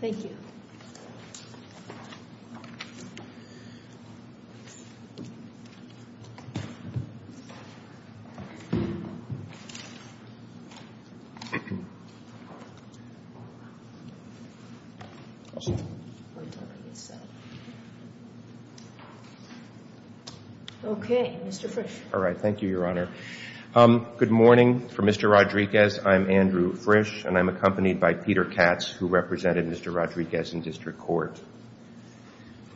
Thank you. Okay, Mr. Frisch. All right. Thank you, Your Honor. Good morning. For Mr. Rodriguez, I'm Andrew Frisch, and I'm accompanied by Peter Katz, who represented Mr. Rodriguez in district court.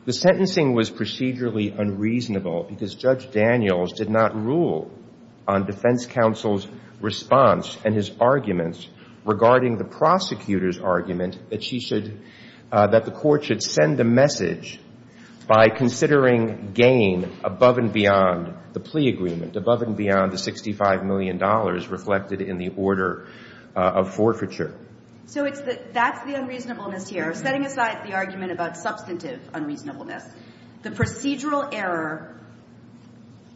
The sentencing was procedurally unreasonable because Judge Daniels did not rule on defense counsel's response and his arguments regarding the prosecutor's argument that she should that the court should send a message by considering gain above and beyond the plea agreement, above and beyond the $65 million reflected in the order of forfeiture. So that's the unreasonableness here. Setting aside the argument about substantive unreasonableness, the procedural error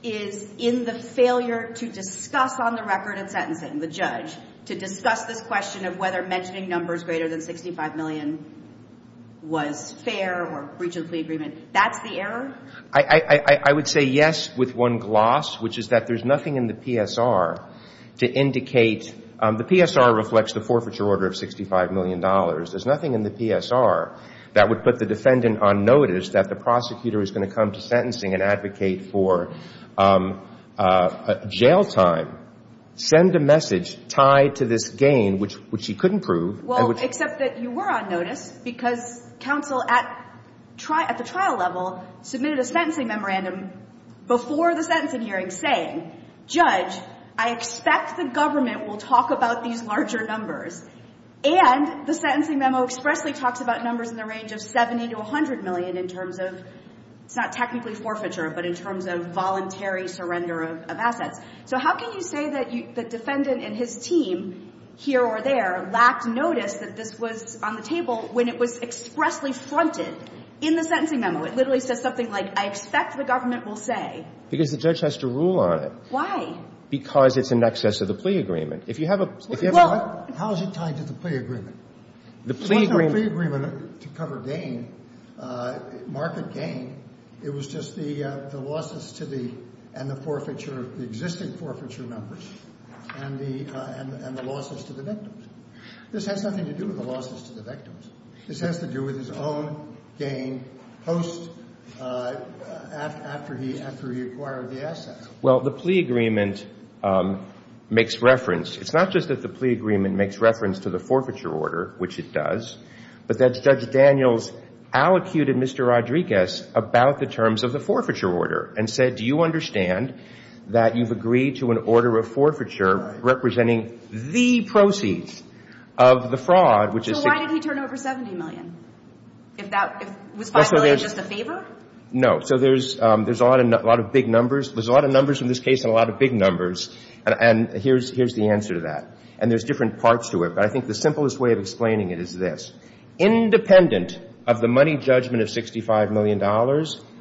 is in the failure to discuss on the record in sentencing, the judge, to discuss this question of whether mentioning numbers greater than $65 million was fair or breach of the plea agreement. That's the error? I would say yes with one gloss, which is that there's nothing in the PSR to indicate – the PSR reflects the forfeiture order of $65 million. There's nothing in the PSR that would put the defendant on notice that the prosecutor is going to come to sentencing and advocate for jail time. Send a message tied to this gain, which she couldn't prove. Well, except that you were on notice because counsel at the trial level submitted a sentencing memorandum before the sentencing hearing saying, Judge, I expect the government will talk about these larger numbers. And the sentencing memo expressly talks about numbers in the range of $70 to $100 million in terms of – it's not technically forfeiture, but in terms of voluntary surrender of assets. So how can you say that the defendant and his team here or there lacked notice that this was on the table when it was expressly fronted in the sentencing memo? It literally says something like, I expect the government will say. Because the judge has to rule on it. Why? Because it's in excess of the plea agreement. If you have a – Well, how is it tied to the plea agreement? The plea agreement – The plea agreement to cover gain, market gain, it was just the losses to the – and the forfeiture – the existing forfeiture numbers and the losses to the victims. This has nothing to do with the losses to the victims. This has to do with his own gain post – after he acquired the assets. Well, the plea agreement makes reference – it's not just that the plea agreement makes reference to the forfeiture order, which it does, but that Judge Daniels allocated Mr. Rodriguez about the terms of the forfeiture order and said, do you understand that you've agreed to an order of forfeiture representing the proceeds of the fraud, which is – So why did he turn over $70 million? If that – was $5 million just a favor? No. So there's a lot of big numbers. There's a lot of numbers in this case and a lot of big numbers. And here's the answer to that. And there's different parts to it. But I think the simplest way of explaining it is this. Independent of the money judgment of $65 million,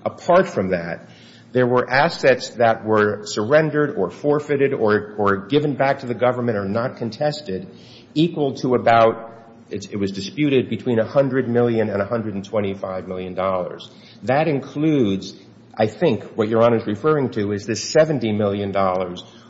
apart from that, there were assets that were surrendered or forfeited or given back to the government or not contested equal to about – it was disputed between $100 million and $125 million. That includes, I think, what Your Honor is referring to is this $70 million,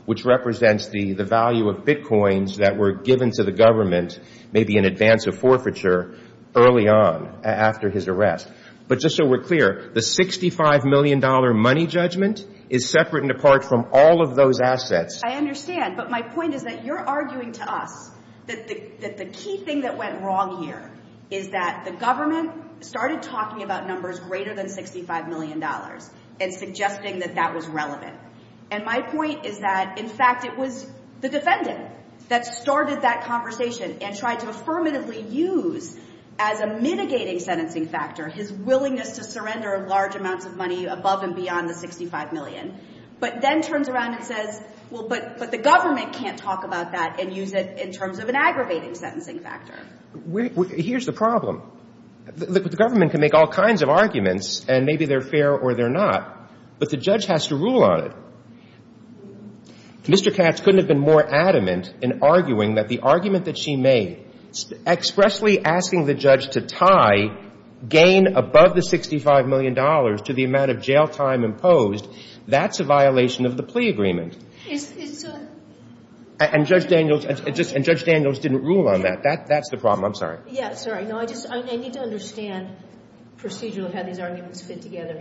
which represents the value of bitcoins that were given to the government maybe in advance of forfeiture early on after his arrest. But just so we're clear, the $65 million money judgment is separate and apart from all of those assets. I understand, but my point is that you're arguing to us that the key thing that went wrong here is that the government started talking about numbers greater than $65 million and suggesting that that was relevant. And my point is that, in fact, it was the defendant that started that conversation and tried to affirmatively use as a mitigating sentencing factor his willingness to surrender large amounts of money above and beyond the $65 million. But then turns around and says, well, but the government can't talk about that and use it in terms of an aggravating sentencing factor. Here's the problem. The government can make all kinds of arguments, and maybe they're fair or they're not, but the judge has to rule on it. Mr. Katz couldn't have been more adamant in arguing that the argument that she made, expressly asking the judge to tie gain above the $65 million to the amount of jail time imposed, that's a violation of the plea agreement. And Judge Daniels didn't rule on that. That's the problem. I'm sorry. Yeah, sorry. No, I need to understand procedurally how these arguments fit together.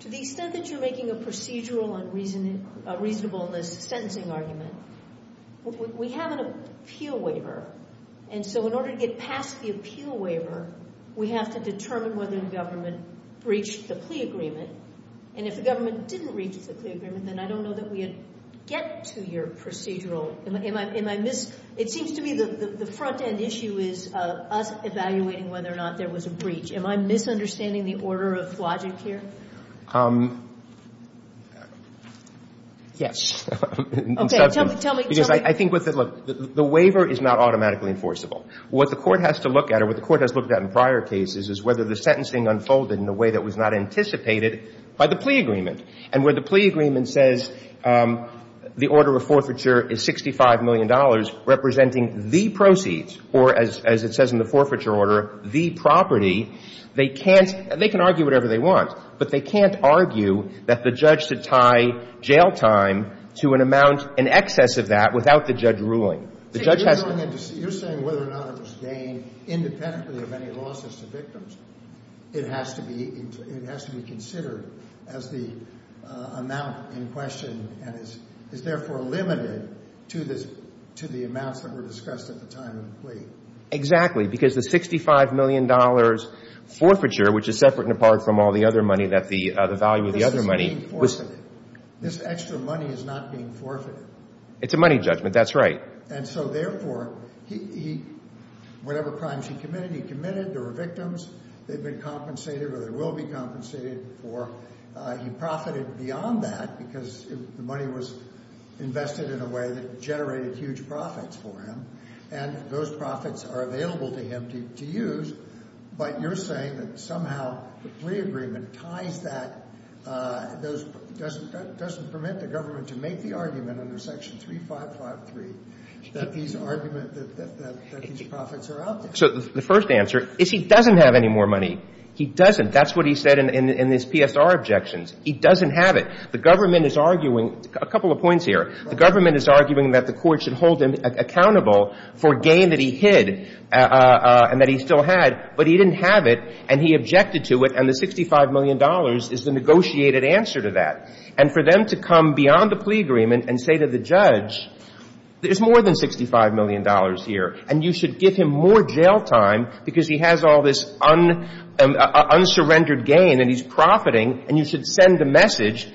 To the extent that you're making a procedural and reasonableness sentencing argument, we have an appeal waiver. And so in order to get past the appeal waiver, we have to determine whether the government breached the plea agreement. And if the government didn't breach the plea agreement, then I don't know that we would get to your procedural… It seems to me the front-end issue is us evaluating whether or not there was a breach. Am I misunderstanding the order of logic here? Yes. Okay. Tell me. I think the waiver is not automatically enforceable. What the Court has to look at, or what the Court has looked at in prior cases, is whether the sentencing unfolded in a way that was not anticipated by the plea agreement. And where the plea agreement says the order of forfeiture is $65 million, representing the proceeds, or as it says in the forfeiture order, the property, they can argue whatever they want. But they can't argue that the judge should tie jail time to an amount in excess of that without the judge ruling. You're saying whether or not it was gained independently of any losses to victims. It has to be considered as the amount in question and is therefore limited to the amounts that were discussed at the time of the plea. Exactly. Because the $65 million forfeiture, which is separate and apart from all the other money, the value of the other money… This is being forfeited. This extra money is not being forfeited. It's a money judgment. That's right. And so, therefore, whatever crimes he committed, he committed. There were victims. They've been compensated or they will be compensated for. He profited beyond that because the money was invested in a way that generated huge profits for him. And those profits are available to him to use. So the first answer is he doesn't have any more money. He doesn't. That's what he said in his PSR objections. He doesn't have it. The government is arguing – a couple of points here. The government is arguing that the court should hold him accountable for gain that he hid and that he still had. But he didn't have it. And he objected to it. And the $65 million is the negotiated answer to that. And for them to come beyond the plea agreement and say to the judge, there's more than $65 million here. And you should give him more jail time because he has all this unsurrendered gain and he's profiting. And you should send a message.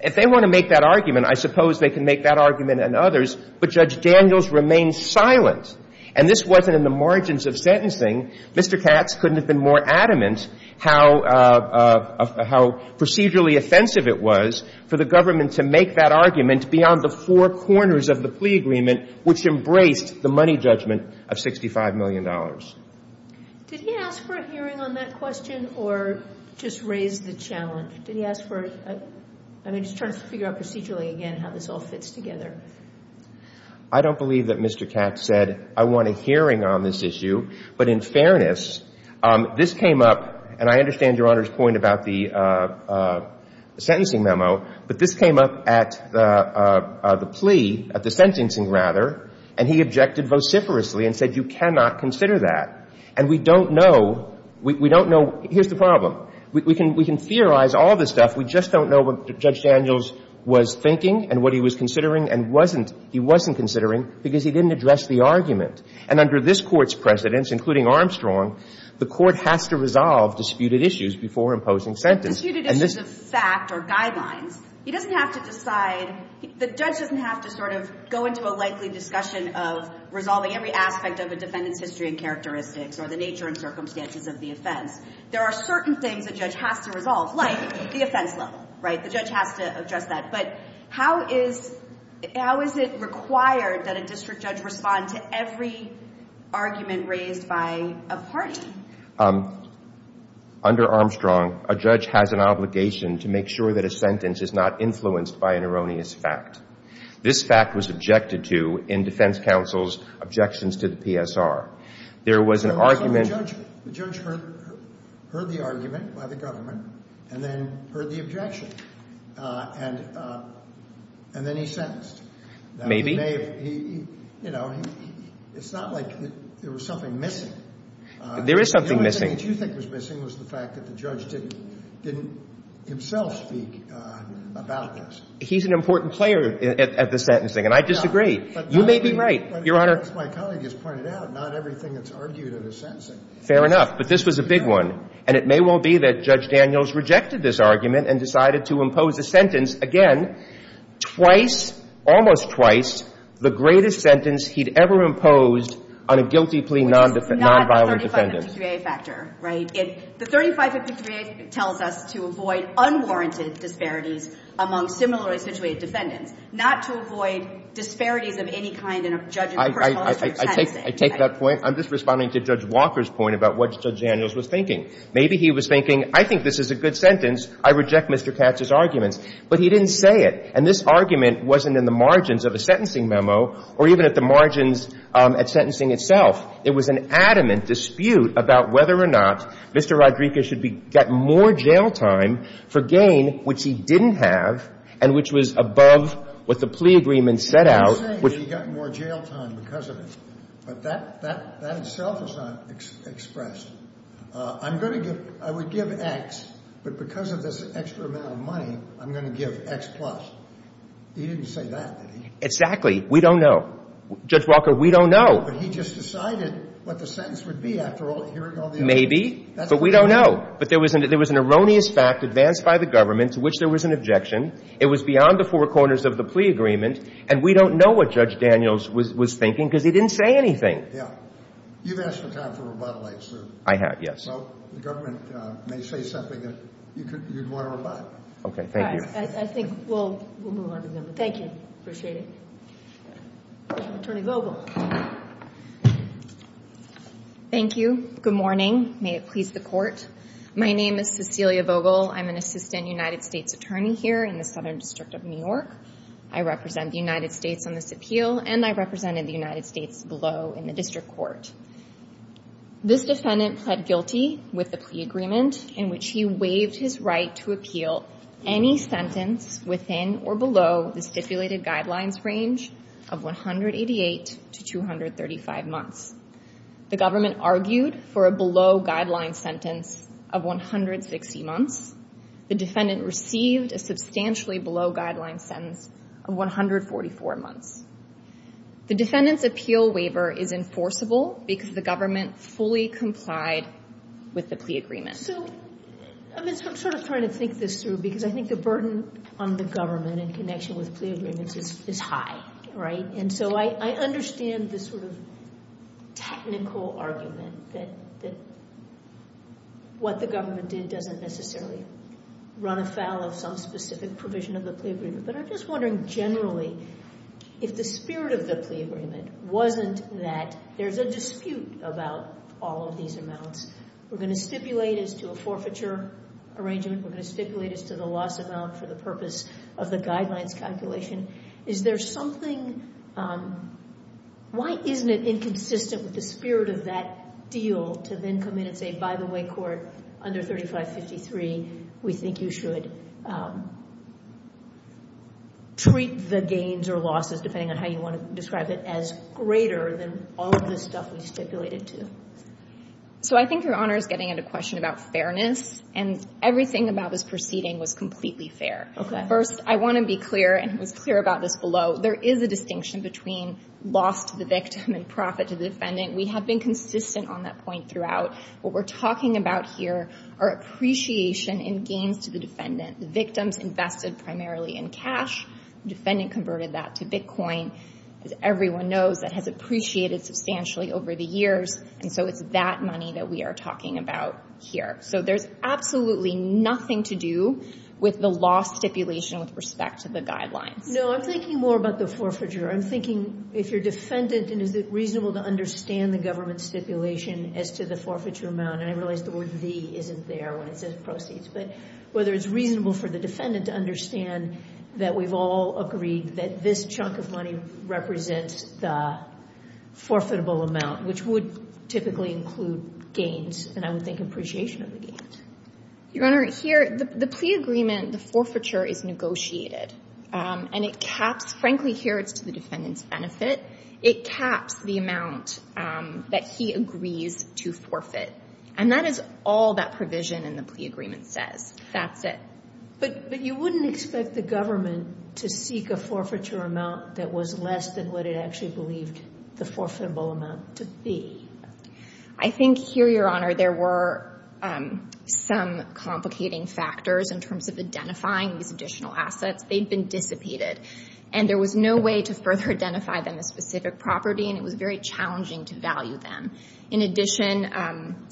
If they want to make that argument, I suppose they can make that argument and others. But Judge Daniels remained silent. And this wasn't in the margins of sentencing. Mr. Katz couldn't have been more adamant how procedurally offensive it was for the government to make that argument beyond the four corners of the plea agreement, which embraced the money judgment of $65 million. Did he ask for a hearing on that question or just raise the challenge? Did he ask for – I mean, just trying to figure out procedurally again how this all fits together. I don't believe that Mr. Katz said, I want a hearing on this issue. But in fairness, this came up – and I understand Your Honor's point about the sentencing memo. But this came up at the plea – at the sentencing, rather. And he objected vociferously and said, you cannot consider that. And we don't know – we don't know – here's the problem. We can theorize all this stuff. We just don't know what Judge Daniels was thinking and what he was considering and wasn't – he wasn't considering because he didn't address the argument. And under this Court's precedence, including Armstrong, the Court has to resolve disputed issues before imposing sentence. Disputed issues of fact or guidelines. He doesn't have to decide – the judge doesn't have to sort of go into a likely discussion of resolving every aspect of a defendant's history and characteristics or the nature and circumstances of the offense. There are certain things a judge has to resolve, like the offense level, right? The judge has to address that. But how is – how is it required that a district judge respond to every argument raised by a party? Under Armstrong, a judge has an obligation to make sure that a sentence is not influenced by an erroneous fact. This fact was objected to in defense counsel's objections to the PSR. There was an argument – The judge heard the argument by the government and then heard the objection, and then he sentenced. Maybe. You know, it's not like there was something missing. There is something missing. The only thing that you think was missing was the fact that the judge didn't himself speak about this. He's an important player at the sentencing, and I disagree. You may be right, Your Honor. As my colleague has pointed out, not everything that's argued at a sentencing. Fair enough. But this was a big one, and it may well be that Judge Daniels rejected this argument and decided to impose a sentence, again, twice, almost twice, the greatest sentence he'd ever imposed on a guilty plea nonviolent defendant. Which is not the 3553A factor, right? The 3553A tells us to avoid unwarranted disparities among similarly situated defendants, not to avoid disparities of any kind in a judge's personal sense of sentencing. I take that point. I'm just responding to Judge Walker's point about what Judge Daniels was thinking. Maybe he was thinking, I think this is a good sentence. I reject Mr. Katz's arguments. But he didn't say it, and this argument wasn't in the margins of a sentencing memo or even at the margins at sentencing itself. It was an adamant dispute about whether or not Mr. Rodriguez should get more jail time for gain, which he didn't have and which was above what the plea agreement set out. He was saying that he got more jail time because of it, but that itself is not expressed. I'm going to give – I would give X, but because of this extra amount of money, I'm going to give X plus. He didn't say that, did he? Exactly. We don't know. Judge Walker, we don't know. But he just decided what the sentence would be after hearing all the arguments. Maybe. But we don't know. But there was an erroneous fact advanced by the government to which there was an objection. It was beyond the four corners of the plea agreement, and we don't know what Judge Daniels was thinking because he didn't say anything. Yeah. You've asked for time for rebuttal, I assume. I have, yes. So the government may say something that you'd want to rebut. Okay. Thank you. All right. I think we'll move on to them. Thank you. Appreciate it. Attorney Vogel. Thank you. Good morning. May it please the court. My name is Cecilia Vogel. I'm an assistant United States attorney here in the Southern District of New York. I represent the United States on this appeal, and I represented the United States below in the district court. This defendant pled guilty with the plea agreement in which he waived his right to appeal any sentence within or below the stipulated guidelines range of 188 to 235 months. The government argued for a below-guideline sentence of 160 months. The defendant received a substantially below-guideline sentence of 144 months. The defendant's appeal waiver is enforceable because the government fully complied with the plea agreement. So I'm sort of trying to think this through because I think the burden on the government in connection with plea agreements is high, right? And so I understand this sort of technical argument that what the government did doesn't necessarily run afoul of some specific provision of the plea agreement, but I'm just wondering generally if the spirit of the plea agreement wasn't that there's a dispute about all of these amounts. We're going to stipulate as to a forfeiture arrangement. We're going to stipulate as to the loss amount for the purpose of the guidelines calculation. Is there something – why isn't it inconsistent with the spirit of that deal to then come in and say, by the way, court, under 3553, we think you should treat the gains or losses, depending on how you want to describe it, as greater than all of the stuff we stipulated to? So I think Your Honor is getting at a question about fairness, and everything about this proceeding was completely fair. Okay. First, I want to be clear, and it was clear about this below. There is a distinction between loss to the victim and profit to the defendant. We have been consistent on that point throughout. What we're talking about here are appreciation and gains to the defendant. The victim's invested primarily in cash. The defendant converted that to bitcoin. As everyone knows, that has appreciated substantially over the years, and so it's that money that we are talking about here. So there's absolutely nothing to do with the loss stipulation with respect to the guidelines. No, I'm thinking more about the forfeiture. I'm thinking if you're a defendant, and is it reasonable to understand the government's stipulation as to the forfeiture amount? And I realize the word the isn't there when it says proceeds, but whether it's reasonable for the defendant to understand that we've all agreed that this chunk of money represents the forfeitable amount, which would typically include gains, and I would think appreciation of the gains. Your Honor, here, the plea agreement, the forfeiture, is negotiated, and it caps. Frankly, here it's to the defendant's benefit. It caps the amount that he agrees to forfeit, and that is all that provision in the plea agreement says. That's it. But you wouldn't expect the government to seek a forfeiture amount that was less than what it actually believed the forfeitable amount to be. I think here, Your Honor, there were some complicating factors in terms of identifying these additional assets. They'd been dissipated, and there was no way to further identify them as specific property, and it was very challenging to value them. In addition,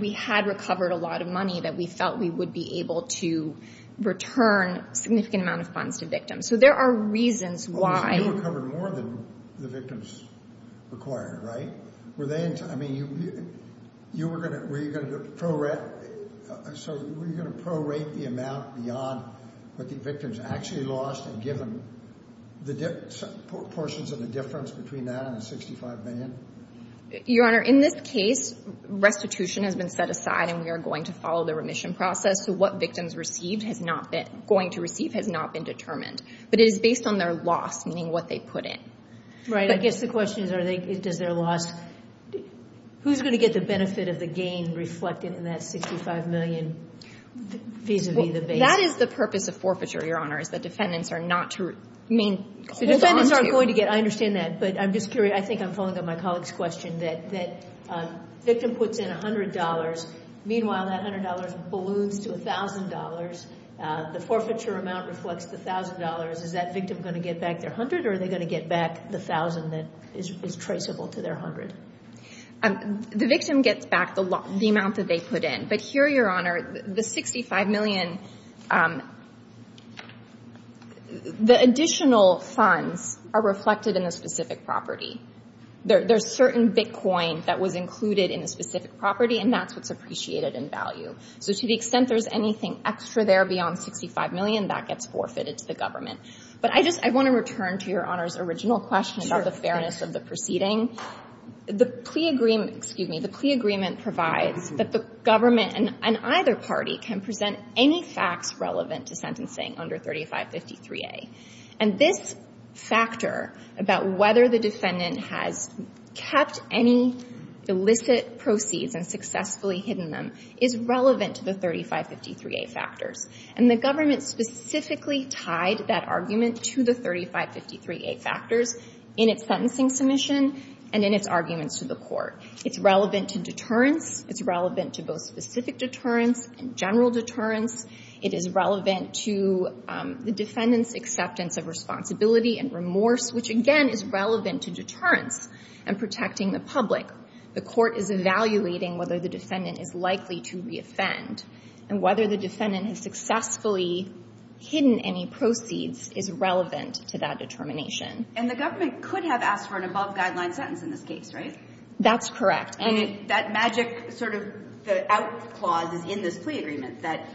we had recovered a lot of money that we felt we would be able to return a significant amount of funds to victims. So there are reasons why. Well, you recovered more than the victims required, right? I mean, were you going to prorate the amount beyond what the victims actually lost and give them portions of the difference between that and the $65 million? Your Honor, in this case, restitution has been set aside, and we are going to follow the remission process. So what victims received has not been going to receive has not been determined. But it is based on their loss, meaning what they put in. Right. I guess the question is does their loss, who's going to get the benefit of the gain reflected in that $65 million vis-a-vis the base? That is the purpose of forfeiture, Your Honor, is that defendants are not to hold on to. I understand that, but I'm just curious. I think I'm following up on my colleague's question that the victim puts in $100. Meanwhile, that $100 balloons to $1,000. The forfeiture amount reflects the $1,000. Is that victim going to get back their $100, or are they going to get back the $1,000 that is traceable to their $100? The victim gets back the amount that they put in. But here, Your Honor, the $65 million, the additional funds are reflected in a specific property. There's certain bitcoin that was included in a specific property, and that's what's appreciated in value. So to the extent there's anything extra there beyond $65 million, that gets forfeited to the government. But I just want to return to Your Honor's original question about the fairness of the proceeding. The plea agreement provides that the government and either party can present any facts relevant to sentencing under 3553A. And this factor about whether the defendant has kept any illicit proceeds and successfully hidden them is relevant to the 3553A factors. And the government specifically tied that argument to the 3553A factors in its sentencing submission and in its arguments to the court. It's relevant to deterrence. It's relevant to both specific deterrence and general deterrence. It is relevant to the defendant's acceptance of responsibility and remorse, which, again, is relevant to deterrence and protecting the public. The court is evaluating whether the defendant is likely to reoffend. And whether the defendant has successfully hidden any proceeds is relevant to that determination. And the government could have asked for an above-guideline sentence in this case, right? That's correct. And that magic sort of the out clause is in this plea agreement, that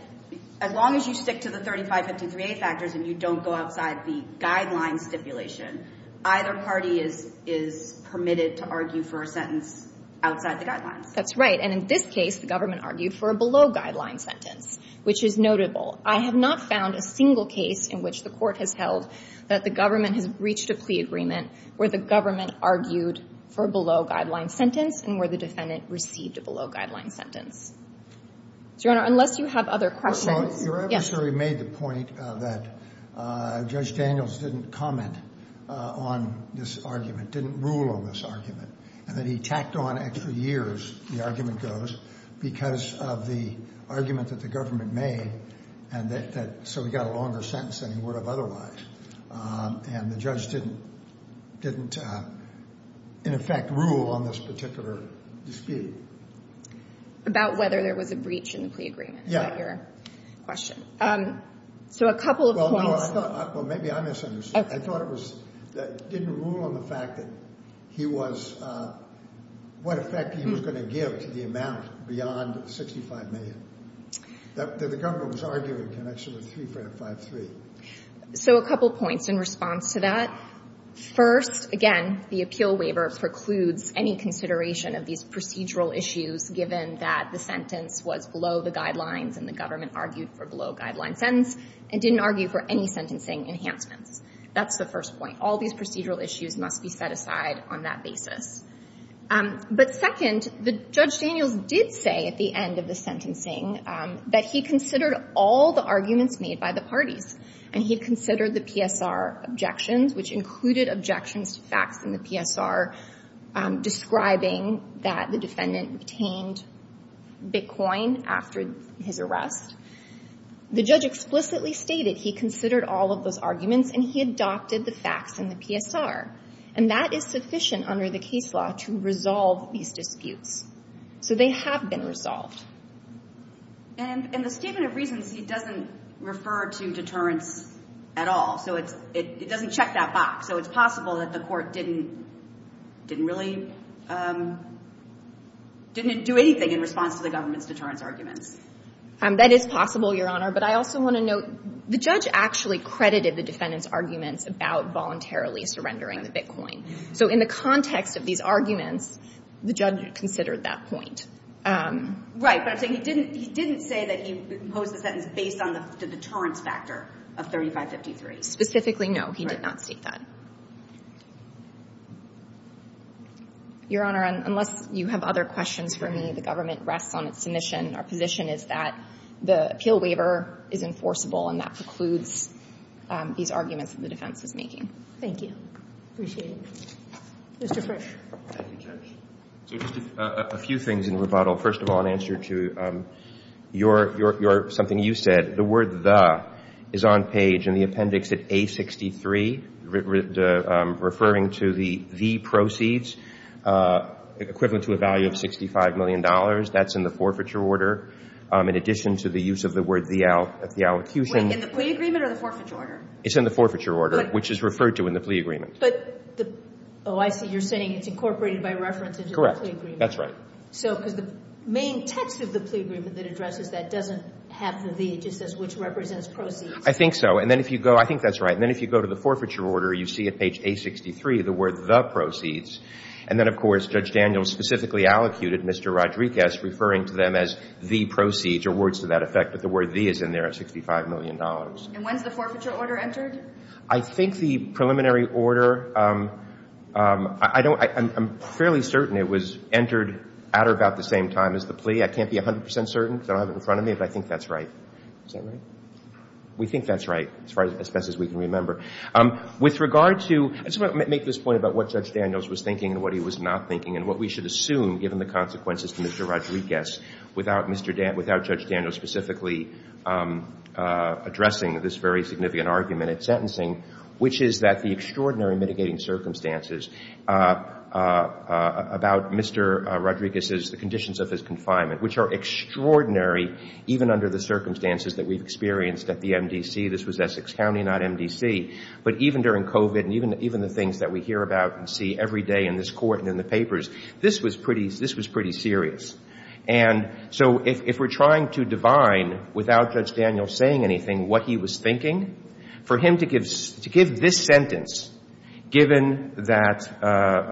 as long as you stick to the 3553A factors and you don't go outside the guideline stipulation, either party is permitted to argue for a sentence outside the guidelines. That's right. And in this case, the government argued for a below-guideline sentence, which is notable. I have not found a single case in which the court has held that the government has reached a plea agreement where the government argued for a below-guideline sentence and where the defendant received a below-guideline sentence. Your Honor, unless you have other questions. Your adversary made the point that Judge Daniels didn't comment on this argument, didn't rule on this argument, and that he tacked on extra years, the argument goes, because of the argument that the government made. And so he got a longer sentence than he would have otherwise. And the judge didn't, in effect, rule on this particular dispute. About whether there was a breach in the plea agreement. Is that your question? Yeah. So a couple of points. Well, no, I thought, well, maybe I misunderstood. I thought it was, didn't rule on the fact that he was, what effect he was going to give to the amount beyond $65 million that the government was arguing in connection with 3553. So a couple points in response to that. First, again, the appeal waiver precludes any consideration of these procedural issues, given that the sentence was below the guidelines and the government argued for below-guideline sentence and didn't argue for any sentencing enhancements. That's the first point. All these procedural issues must be set aside on that basis. But second, Judge Daniels did say at the end of the sentencing that he considered all the arguments made by the parties. And he considered the PSR objections, which included objections to facts in the PSR describing that the defendant obtained Bitcoin after his arrest. The judge explicitly stated he considered all of those arguments and he adopted the facts in the PSR. And that is sufficient under the case law to resolve these disputes. So they have been resolved. And in the statement of reasons, he doesn't refer to deterrence at all. So it's, it doesn't check that box. So it's possible that the court didn't, didn't really, didn't do anything in response to the government's deterrence arguments. That is possible, Your Honor. But I also want to note, the judge actually credited the defendant's arguments about voluntarily surrendering the Bitcoin. So in the context of these arguments, the judge considered that point. Right. But I'm saying he didn't, he didn't say that he posed the sentence based on the deterrence factor of 3553. Specifically, no. He did not state that. Your Honor, unless you have other questions for me, the government rests on its submission. Our position is that the appeal waiver is enforceable and that precludes these arguments that the defense is making. Thank you. Appreciate it. Mr. Frisch. Thank you, Judge. So just a few things in rebuttal. First of all, in answer to your, something you said, the word the is on page in the appendix at A63, referring to the proceeds equivalent to a value of $65 million. That's in the forfeiture order. In addition to the use of the word the allocution. Wait, in the plea agreement or the forfeiture order? It's in the forfeiture order, which is referred to in the plea agreement. Oh, I see. You're saying it's incorporated by reference into the plea agreement. That's right. So, because the main text of the plea agreement that addresses that doesn't have the the, it just says which represents proceeds. I think so. And then if you go, I think that's right. And then if you go to the forfeiture order, you see at page A63 the word the proceeds. And then, of course, Judge Daniels specifically allocated Mr. Rodriguez, referring to them as the proceeds or words to that effect. But the word the is in there at $65 million. And when's the forfeiture order entered? I think the preliminary order, I don't, I'm fairly certain it was entered at or about the same time as the plea. I can't be 100 percent certain because I don't have it in front of me, but I think that's right. Is that right? We think that's right, as far as, as best as we can remember. With regard to, I just want to make this point about what Judge Daniels was thinking and what he was not thinking and what we should assume, given the consequences to Mr. Rodriguez, without Mr. Dan, without Judge Daniels specifically addressing this very significant argument, which is that the extraordinary mitigating circumstances about Mr. Rodriguez's, the conditions of his confinement, which are extraordinary, even under the circumstances that we've experienced at the MDC. This was Essex County, not MDC. But even during COVID and even the things that we hear about and see every day in this court and in the papers, this was pretty, this was pretty serious. And so if we're trying to divine, without Judge Daniels saying anything, what he was thinking, for him to give, to give this sentence, given that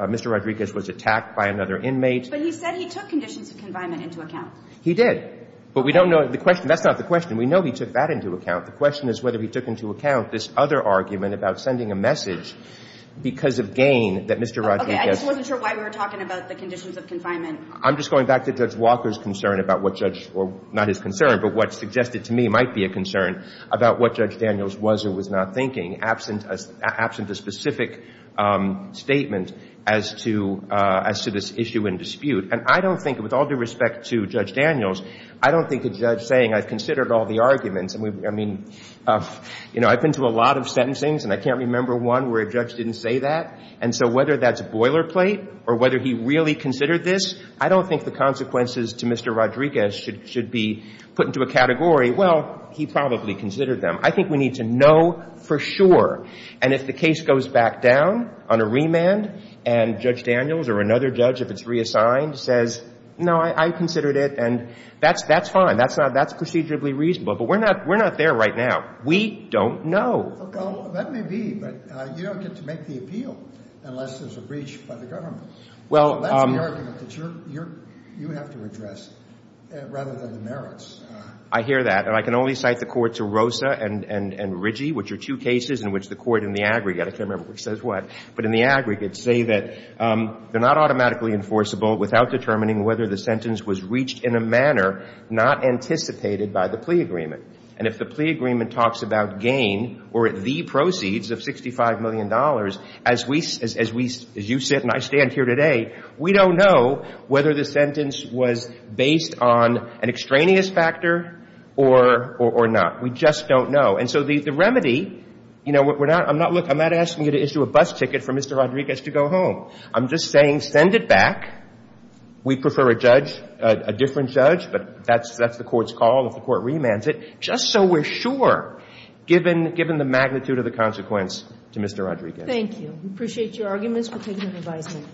Mr. Rodriguez was attacked by another inmate. But he said he took conditions of confinement into account. He did. But we don't know the question. That's not the question. We know he took that into account. The question is whether he took into account this other argument about sending a message because of gain that Mr. Rodriguez. Okay. I just wasn't sure why we were talking about the conditions of confinement. I'm just going back to Judge Walker's concern about what Judge, or not his concern, but what suggested to me might be a concern about what Judge Daniels was or was not thinking, absent a specific statement as to this issue in dispute. And I don't think, with all due respect to Judge Daniels, I don't think a judge saying, I've considered all the arguments. I mean, you know, I've been to a lot of sentencings, and I can't remember one where a judge didn't say that. And so whether that's boilerplate or whether he really considered this, I don't think the consequences to Mr. Rodriguez should be put into a category, well, he probably considered them. I think we need to know for sure. And if the case goes back down on a remand and Judge Daniels or another judge, if it's reassigned, says, no, I considered it, and that's fine. That's procedurally reasonable. But we're not there right now. We don't know. Well, that may be, but you don't get to make the appeal unless there's a breach by the government. Well, that's the argument that you have to address, rather than the merits. I hear that. And I can only cite the court to Rosa and Ritchie, which are two cases in which the court in the aggregate, I can't remember which says what, but in the aggregate say that they're not automatically enforceable without determining whether the sentence was reached in a manner not anticipated by the plea agreement. And if the plea agreement talks about gain or the proceeds of $65 million, as you sit and I stand here today, we don't know whether the sentence was based on an extraneous factor or not. We just don't know. And so the remedy, you know, I'm not asking you to issue a bus ticket for Mr. Rodriguez to go home. I'm just saying send it back. We prefer a judge, a different judge, but that's the court's call if the court remands it, just so we're sure, given the magnitude of the consequence to Mr. Rodriguez. Thank you. We appreciate your arguments. We'll take your advisement.